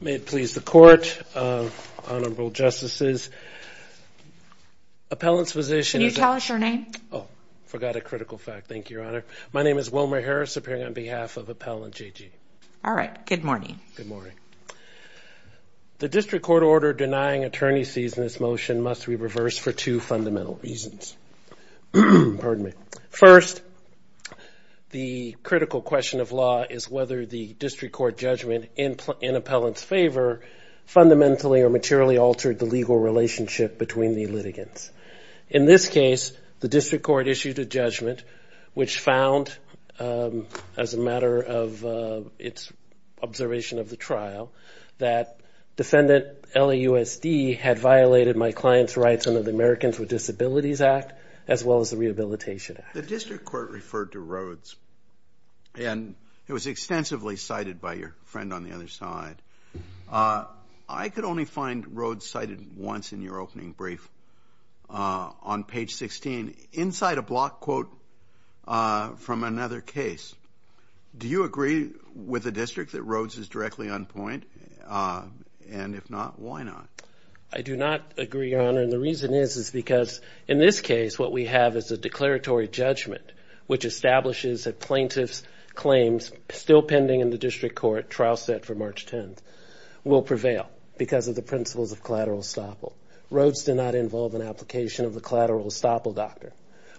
May it please the Court, Honorable Justices, Appellant's position is that... Can you tell us your name? Oh, I forgot a critical fact. Thank you, Your Honor. My name is Wilmer Harris, appearing on behalf of Appellant J.G. All right. Good morning. Good morning. The District Court order denying attorney's cease in this motion must be reversed for two fundamental reasons. Pardon me. First, the critical question of law is whether the District Court judgment in Appellant's favor fundamentally or materially altered the legal relationship between the litigants. In this case, the District Court issued a judgment which found, as a matter of its observation of the trial, that Defendant LAUSD had violated my client's rights under the Americans with Disabilities Act, as well as the Rehabilitation Act. The District Court referred to Rhodes, and it was extensively cited by your friend on the other side. I could only find Rhodes cited once in your opening brief, on page 16, inside a block quote from another case. Do you agree with the District that Rhodes is directly on point? And if not, why not? I do not agree, Your Honor, and the reason is, is because in this case, what we have is a declaratory judgment which establishes that plaintiff's claims, still pending in the District Court trial set for March 10th, will prevail because of the principles of collateral estoppel. Rhodes did not involve an application of the collateral estoppel doctrine.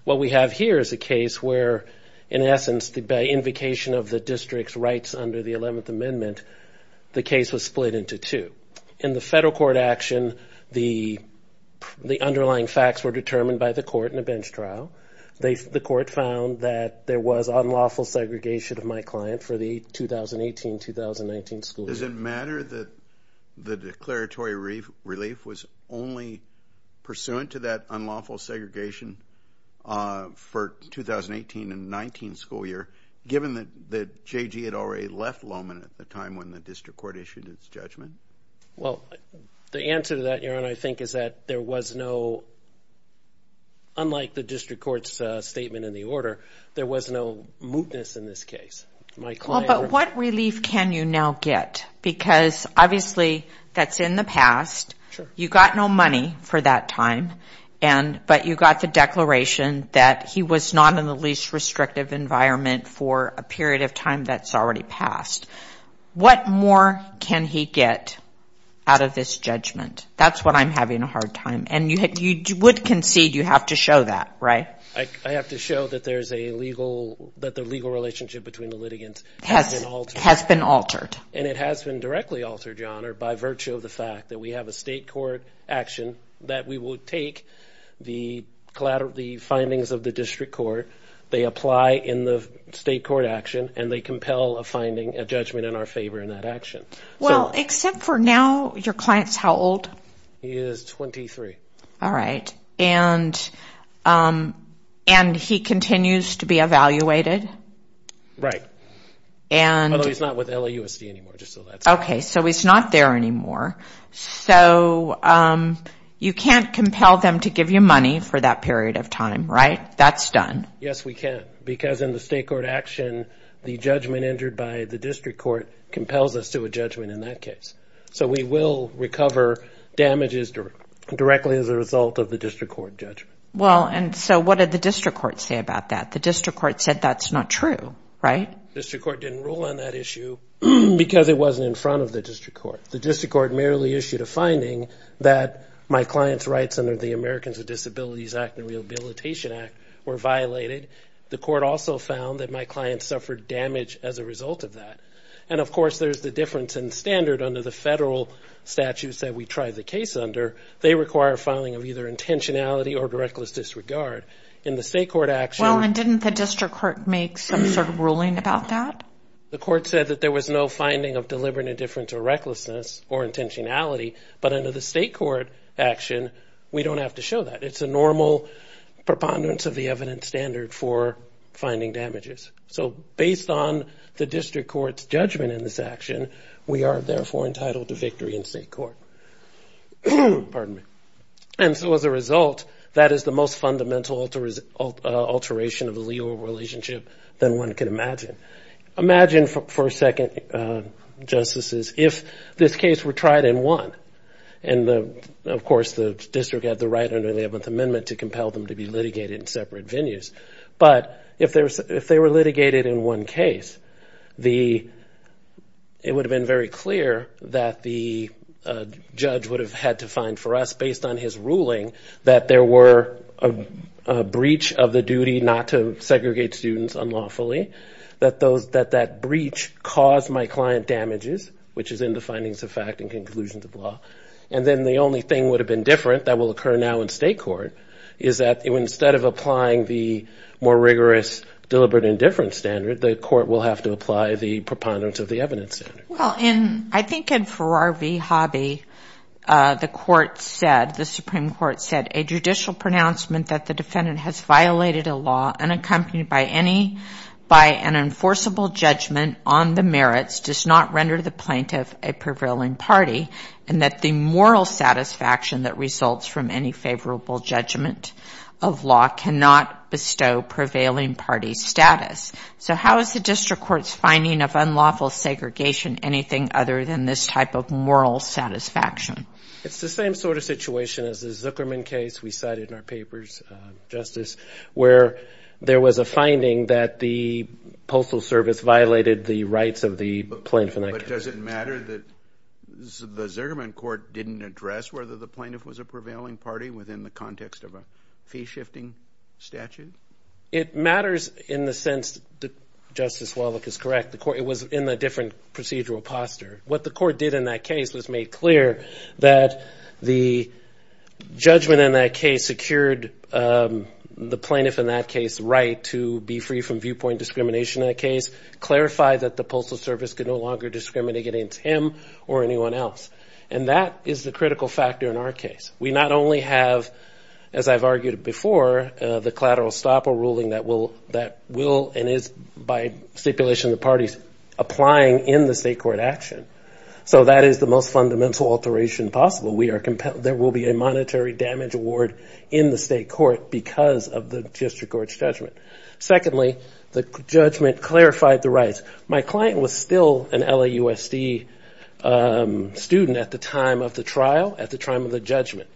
What we have here is a case where, in essence, by invocation of the District's rights under the 11th Amendment, the case was split into two. In the federal court action, the underlying facts were determined by the court in a bench trial. The court found that there was unlawful segregation of my client for the 2018-2019 school year. Does it matter that the declaratory relief was only pursuant to that unlawful segregation for 2018-2019 school year, given that J.G. had already left Lowman at the time when the Well, the answer to that, Your Honor, I think is that there was no, unlike the District Court's statement in the order, there was no mootness in this case. My client... Well, but what relief can you now get? Because obviously, that's in the past. You got no money for that time, but you got the declaration that he was not in the least restrictive environment for a period of time that's already passed. What more can he get out of this judgment? That's what I'm having a hard time, and you would concede you have to show that, right? I have to show that there's a legal... That the legal relationship between the litigants has been altered. And it has been directly altered, Your Honor, by virtue of the fact that we have a state court action that we will take the findings of the District Court, they apply in the state court action, and they compel a finding, a judgment in our favor in that action. Well, except for now, your client's how old? He is 23. All right, and he continues to be evaluated? Right. Although he's not with LAUSD anymore, just so that's clear. Okay, so he's not there anymore, so you can't compel them to give you money for that period of time, right? That's done. Yes, we can, because in the state court action, the judgment injured by the District Court compels us to a judgment in that case. So, we will recover damages directly as a result of the District Court judgment. Well, and so what did the District Court say about that? The District Court said that's not true, right? The District Court didn't rule on that issue because it wasn't in front of the District Court. The District Court merely issued a finding that my client's rights under the Americans with Disabilities Act and Rehabilitation Act were violated. The court also found that my client suffered damage as a result of that. And of course, there's the difference in standard under the federal statutes that we tried the case under. They require filing of either intentionality or directless disregard. In the state court action... Well, and didn't the District Court make some sort of ruling about that? The court said that there was no finding of deliberate indifference or recklessness or intentionality, but under the state court action, we don't have to show that. It's a normal preponderance of the evidence standard for finding damages. So, based on the District Court's judgment in this action, we are therefore entitled to victory in state court. And so, as a result, that is the most fundamental alteration of a legal relationship than one can imagine. Imagine for a second, Justices, if this case were tried in one, and of course, the district had the right under the 11th Amendment to compel them to be litigated in separate venues. But if they were litigated in one case, it would have been very clear that the judge would have had to find for us, based on his ruling, that there were a breach of the duty not to segregate students unlawfully, that that breach caused my client damages, which is in the findings of fact and conclusions of law. And then the only thing would have been different that will occur now in state court is that instead of applying the more rigorous deliberate indifference standard, the court will have to apply the preponderance of the evidence standard. Well, I think in Farrar v. Hobby, the Supreme Court said, a judicial pronouncement that the defendant has violated a law unaccompanied by an enforceable judgment on the merits does not render the plaintiff a prevailing party, and that the moral satisfaction that results from any favorable judgment of law cannot bestow prevailing party status. So how is the district court's finding of unlawful segregation anything other than this type of moral satisfaction? It's the same sort of situation as the Zuckerman case we cited in our papers, Justice, where there was a finding that the Postal Service violated the rights of the plaintiff. But does it matter that the Zuckerman court didn't address whether the plaintiff was a prevailing party within the context of a fee-shifting statute? It matters in the sense that Justice Wallach is correct. It was in a different procedural posture. What the court did in that case was made clear that the judgment in that case secured the plaintiff in that case right to be free from viewpoint discrimination in that case, clarified that the Postal Service could no longer discriminate against him or anyone else. And that is the critical factor in our case. We not only have, as I've argued before, the collateral estoppel ruling that will and is, by stipulation of the parties, applying in the state court action. So that is the most fundamental alteration possible. There will be a monetary damage award in the state court because of the district court's judgment. Secondly, the judgment clarified the rights. My client was still an LAUSD student at the time of the trial, at the time of the judgment.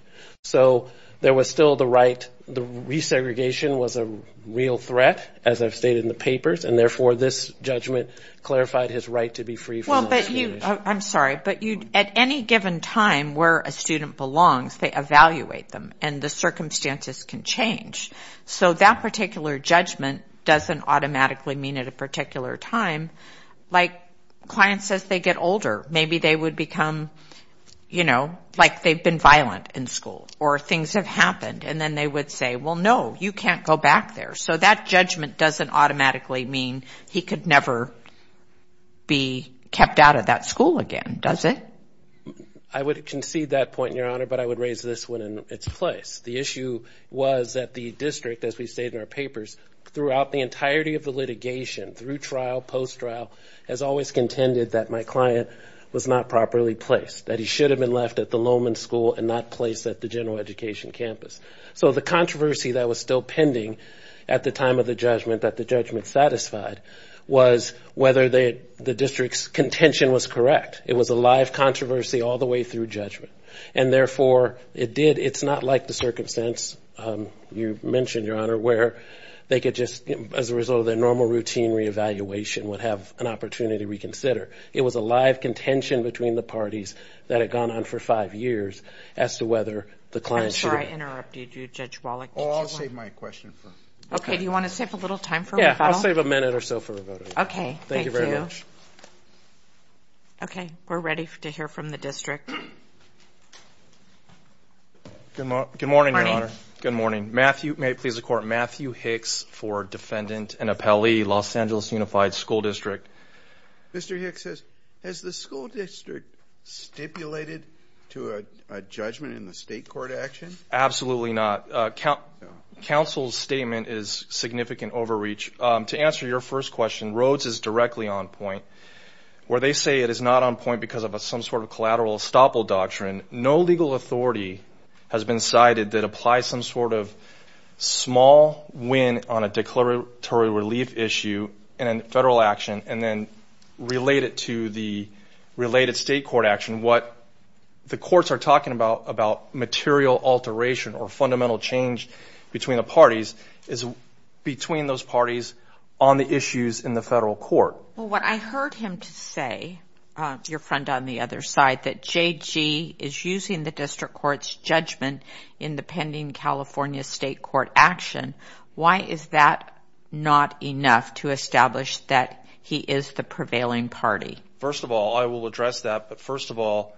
So there was still the right. The resegregation was a real threat, as I've stated in the papers, and therefore this judgment clarified his right to be free from viewpoint discrimination. I'm sorry, but at any given time where a student belongs, they evaluate them, and the circumstances can change. So that particular judgment doesn't automatically mean at a particular time. Like, client says they get older. Maybe they would become, you know, like they've been violent in school, or things have happened, and then they would say, well, no, you can't go back there. So that judgment doesn't automatically mean he could never be kept out of that school again, does it? I would concede that point, Your Honor, but I would raise this one in its place. The issue was that the district, as we've stated in our papers, throughout the entirety of the litigation, through trial, post-trial, has always contended that my client was not properly placed, that he should have been left at the Lowman School and not placed at the general education campus. So the controversy that was still pending at the time of the judgment, that the judgment satisfied, was whether the district's contention was correct. It was a live controversy all the way through judgment, and therefore it did. It's not like the circumstance you mentioned, Your Honor, where they could just, as a result of their normal routine reevaluation, would have an opportunity to reconsider. It was a live contention between the parties that had gone on for five years as to whether the client should have been. I'm sorry I interrupted you, Judge Wallach. Oh, I'll save my question for later. Okay, do you want to save a little time for rebuttal? Yeah, I'll save a minute or so for rebuttal. Okay, thank you. Thank you very much. Okay, we're ready to hear from the district. Good morning, Your Honor. Good morning. May it please the Court, Matthew Hicks for defendant and appellee, Los Angeles Unified School District. Mr. Hicks says, has the school district stipulated to a judgment in the state court action? Absolutely not. Counsel's statement is significant overreach. To answer your first question, Rhodes is directly on point. Where they say it is not on point because of some sort of collateral estoppel doctrine, no legal authority has been cited that applies some sort of small win on a declaratory relief issue in a federal action and then relate it to the related state court action. What the courts are talking about, about material alteration or fundamental change between the parties, is between those parties on the issues in the federal court. Well, what I heard him say, your friend on the other side, that JG is using the district court's judgment in the pending California state court action. Why is that not enough to establish that he is the prevailing party? First of all, I will address that. But first of all,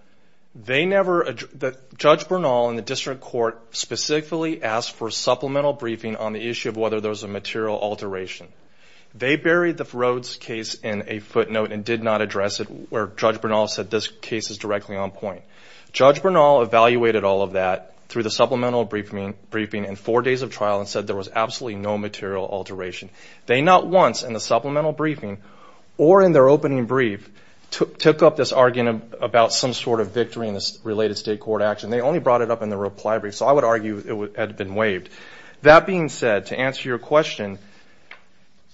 Judge Bernal in the district court specifically asked for supplemental briefing on the issue of whether there was a material alteration. They buried the Rhodes case in a footnote and did not address it where Judge Bernal said this case is directly on point. Judge Bernal evaluated all of that through the supplemental briefing in four days of trial and said there was absolutely no material alteration. They not once in the supplemental briefing or in their opening brief took up this argument about some sort of victory in this related state court action. They only brought it up in the reply brief. So I would argue it had been waived. That being said, to answer your question,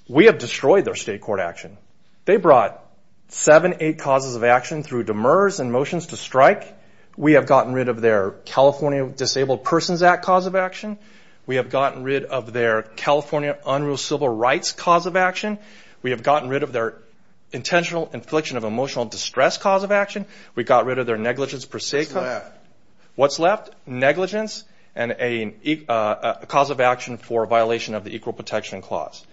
we have destroyed their state court action. They brought seven, eight causes of action through demurs and motions to strike. We have gotten rid of their California Disabled Persons Act cause of action. We have gotten rid of their California Unruh Civil Rights cause of action. We have gotten rid of their intentional infliction of emotional distress cause of action. We got rid of their negligence per se. What's left? Negligence and a cause of action for violation of the Equal Protection Clause.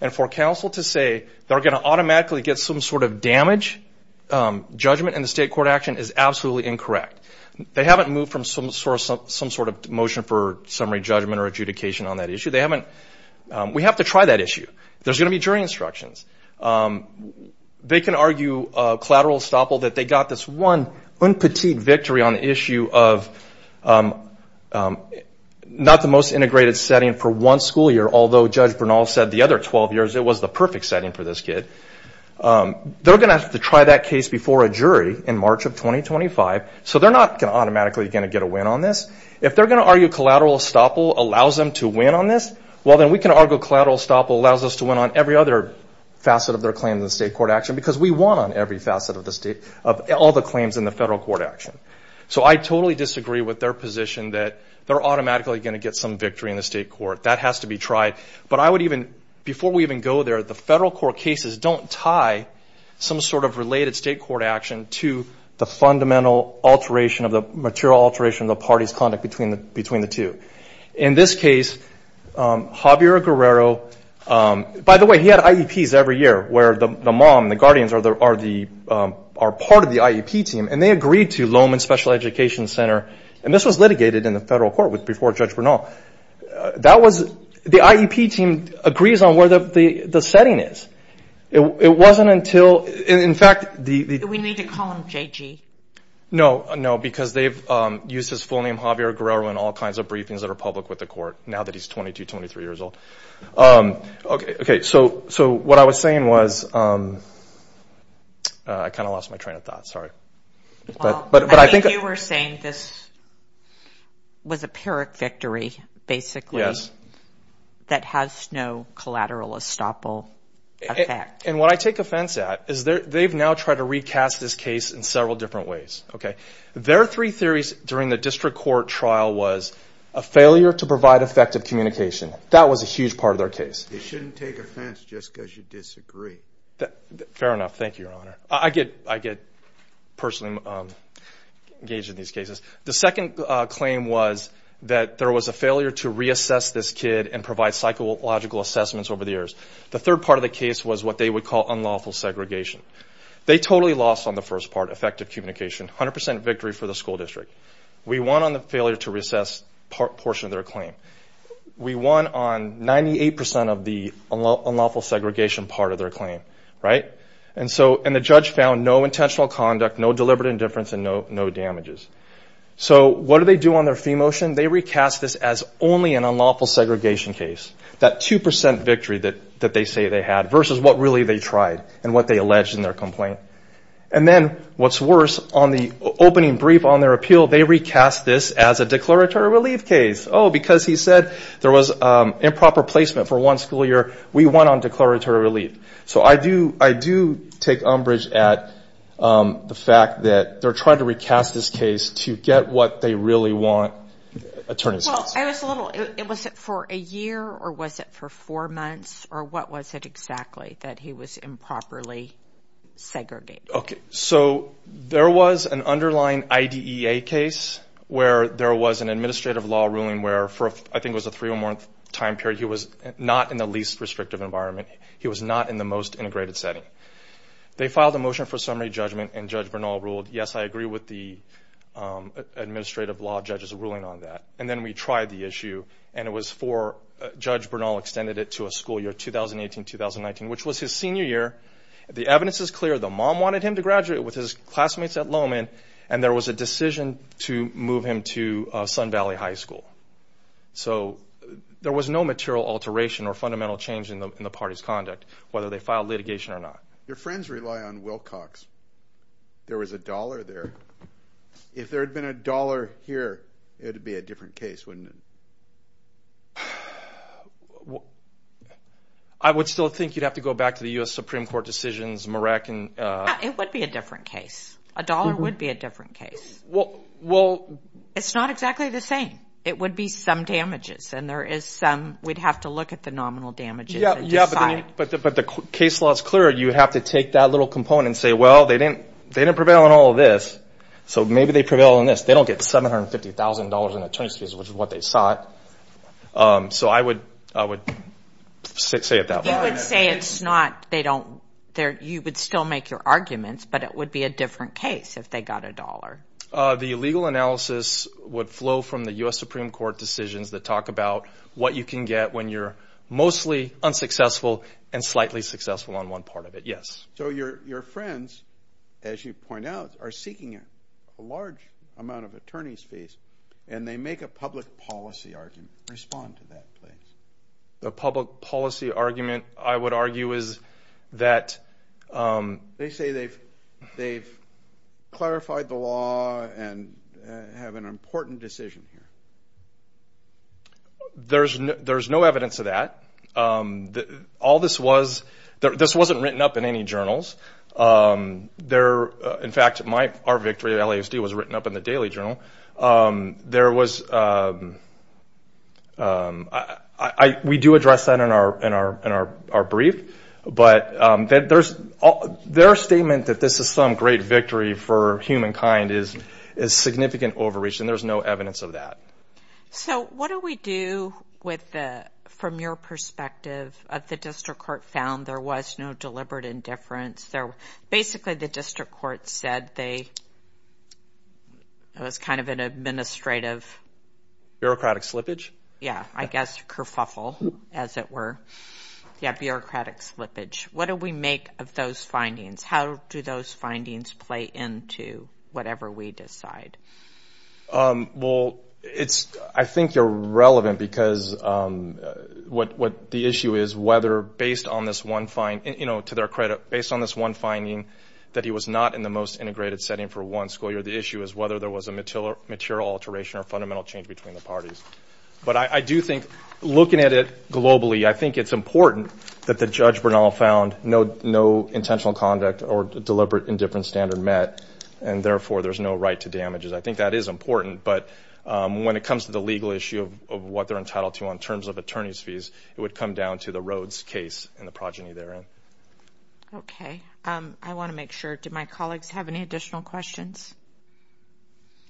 And for counsel to say they're going to automatically get some sort of damage judgment in the state court action is absolutely incorrect. They haven't moved from some sort of motion for summary judgment or adjudication on that issue. We have to try that issue. There's going to be jury instructions. They can argue collateral estoppel that they got this one un petit victory on the issue of not the most integrated setting for one school year, although Judge Bernal said the other 12 years it was the perfect setting for this kid. They're going to have to try that case before a jury in March of 2025. So they're not automatically going to get a win on this. If they're going to argue collateral estoppel allows them to win on this, well, then we can argue collateral estoppel allows us to win on every other facet of their claim in the state court action because we won on every facet of the state, of all the claims in the federal court action. So I totally disagree with their position that they're automatically going to get some victory in the state court. That has to be tried. But I would even, before we even go there, the federal court cases don't tie some sort of related state court action to the fundamental alteration of the material alteration of the party's conduct between the two. In this case, Javier Guerrero, by the way, he had IEPs every year, where the mom, the guardians are part of the IEP team, and they agreed to Lowman Special Education Center, and this was litigated in the federal court before Judge Bernal. The IEP team agrees on where the setting is. It wasn't until, in fact... We need to call him J.G. No, no, because they've used his full name, Javier Guerrero, in all kinds of briefings that are public with the court, now that he's 22, 23 years old. Okay, so what I was saying was... I kind of lost my train of thought, sorry. I think you were saying this was a Pyrrhic victory, basically, that has no collateral estoppel effect. And what I take offense at is they've now tried to recast this case in several different ways. Their three theories during the district court trial was a failure to provide effective communication. That was a huge part of their case. They shouldn't take offense just because you disagree. Fair enough. Thank you, Your Honor. I get personally engaged in these cases. The second claim was that there was a failure to reassess this kid and provide psychological assessments over the years. The third part of the case was what they would call unlawful segregation. They totally lost on the first part, effective communication, 100% victory for the school district. We won on the failure to reassess portion of their claim. We won on 98% of the unlawful segregation part of their claim. And the judge found no intentional conduct, no deliberate indifference, and no damages. So what do they do on their fee motion? They recast this as only an unlawful segregation case, that 2% victory that they say they had, versus what really they tried and what they alleged in their complaint. And then, what's worse, on the opening brief on their appeal, they recast this as a declaratory relief case. Oh, because he said there was improper placement for one school year. We won on declaratory relief. So I do take umbrage at the fact that they're trying to recast this case to get what they really want. Well, I was a little – was it for a year or was it for four months? Or what was it exactly that he was improperly segregated? Okay, so there was an underlying IDEA case where there was an administrative law ruling where, for I think it was a three-month time period, he was not in the least restrictive environment. He was not in the most integrated setting. They filed a motion for summary judgment, and Judge Bernal ruled, yes, I agree with the administrative law judge's ruling on that. And then we tried the issue, and it was for – which was his senior year. The evidence is clear. The mom wanted him to graduate with his classmates at Lowman, and there was a decision to move him to Sun Valley High School. So there was no material alteration or fundamental change in the party's conduct, whether they filed litigation or not. Your friends rely on Wilcox. There was a dollar there. If there had been a dollar here, it would be a different case, wouldn't it? Well, I would still think you'd have to go back to the U.S. Supreme Court decisions. It would be a different case. A dollar would be a different case. Well – It's not exactly the same. It would be some damages, and there is some – we'd have to look at the nominal damages and decide. Yeah, but the case law is clear. You have to take that little component and say, well, they didn't prevail on all of this, so maybe they prevail on this. They don't get $750,000 in attorneys fees, which is what they sought. So I would say it that way. You would say it's not – they don't – you would still make your arguments, but it would be a different case if they got a dollar. The legal analysis would flow from the U.S. Supreme Court decisions that talk about what you can get when you're mostly unsuccessful and slightly successful on one part of it, yes. So your friends, as you point out, are seeking a large amount of attorneys fees, and they make a public policy argument. Respond to that, please. The public policy argument, I would argue, is that – They say they've clarified the law and have an important decision here. There's no evidence of that. All this was – this wasn't written up in any journals. In fact, our victory at LASD was written up in the Daily Journal. There was – we do address that in our brief, but their statement that this is some great victory for humankind is significant overreach, and there's no evidence of that. So what do we do with the – from your perspective, the district court found there was no deliberate indifference. Basically, the district court said they – it was kind of an administrative – Bureaucratic slippage? Yeah, I guess kerfuffle, as it were. Yeah, bureaucratic slippage. What do we make of those findings? How do those findings play into whatever we decide? Well, it's – I think they're relevant because what the issue is, whether based on this one – to their credit, based on this one finding that he was not in the most integrated setting for one school year, the issue is whether there was a material alteration or fundamental change between the parties. But I do think, looking at it globally, I think it's important that the judge Bernal found no intentional conduct or deliberate indifference standard met, and therefore there's no right to damages. I think that is important, but when it comes to the legal issue of what they're entitled to in terms of attorney's fees, it would come down to the Rhodes case and the progeny therein. Okay. I want to make sure – do my colleagues have any additional questions?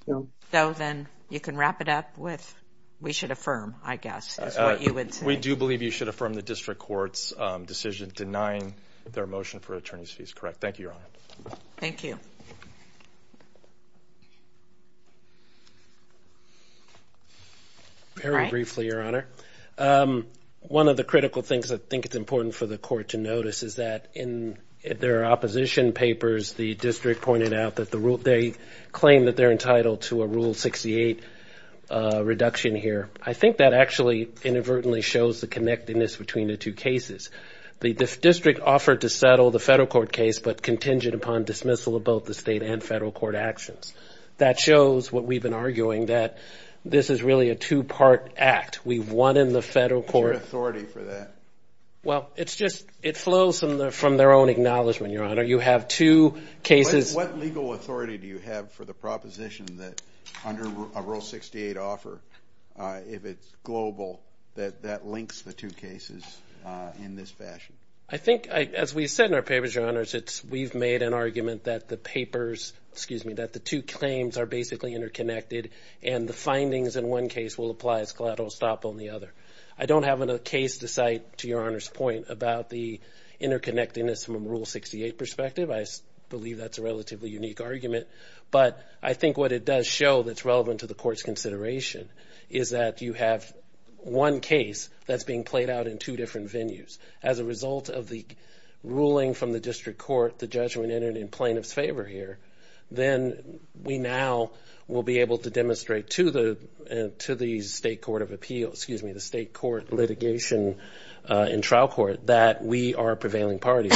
No. So then you can wrap it up with, we should affirm, I guess, is what you would say. We do believe you should affirm the district court's decision denying their motion for attorney's fees. Correct. Thank you, Your Honor. Thank you. Very briefly, Your Honor. One of the critical things I think it's important for the court to notice is that in their opposition papers the district pointed out that they claim that they're entitled to a Rule 68 reduction here. I think that actually inadvertently shows the connectedness between the two cases. The district offered to settle the federal court case but contingent upon dismissal of both the state and federal court actions. That shows what we've been arguing, that this is really a two-part act. We've won in the federal court. What's your authority for that? Well, it flows from their own acknowledgment, Your Honor. You have two cases. What legal authority do you have for the proposition that under a Rule 68 offer, if it's global, that that links the two cases in this fashion? I think, as we said in our papers, Your Honors, we've made an argument that the papers, excuse me, that the two claims are basically interconnected and the findings in one case will apply as collateral stop on the other. I don't have a case to cite, to Your Honor's point, about the interconnectedness from a Rule 68 perspective. I believe that's a relatively unique argument. But I think what it does show that's relevant to the court's consideration is that you have one case that's being played out in two different venues. As a result of the ruling from the district court, the judgment entered in plaintiff's favor here, then we now will be able to demonstrate to the state court of appeals, excuse me, the state court litigation in trial court that we are a prevailing party.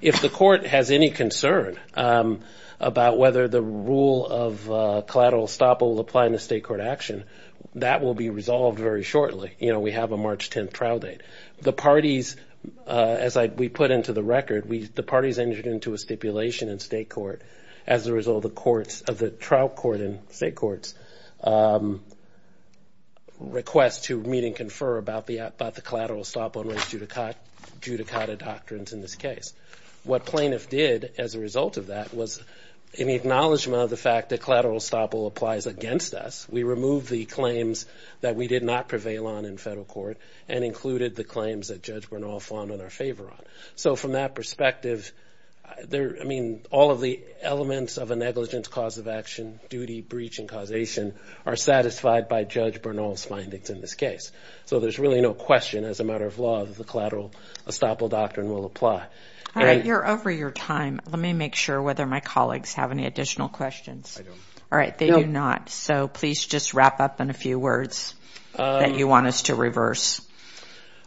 If the court has any concern about whether the rule of collateral stop will apply in a state court action, that will be resolved very shortly. You know, we have a March 10th trial date. The parties, as we put into the record, the parties entered into a stipulation in state court as a result of the trial court and state court's request to meet and confer about the collateral stop on race judicata doctrines in this case. What plaintiff did as a result of that was, in the acknowledgment of the fact that collateral stop will apply against us, we removed the claims that we did not prevail on in federal court and included the claims that Judge Bernal found in our favor on. So from that perspective, I mean, all of the elements of a negligence cause of action, duty, breach, and causation are satisfied by Judge Bernal's findings in this case. So there's really no question, as a matter of law, that the collateral estoppel doctrine will apply. All right, you're over your time. Let me make sure whether my colleagues have any additional questions. All right, they do not. So please just wrap up in a few words that you want us to reverse.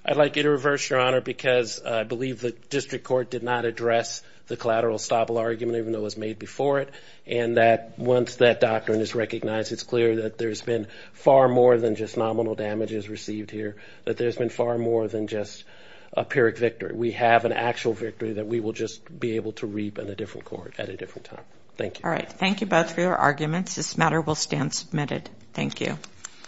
I'd like you to reverse, Your Honor, because I believe the district court did not address the collateral estoppel argument, even though it was made before it, and that once that doctrine is recognized, it's clear that there's been far more than just nominal damages received here, that there's been far more than just a pyrrhic victory. We have an actual victory that we will just be able to reap in a different court at a different time. Thank you. All right, thank you both for your arguments. This matter will stand submitted. Thank you.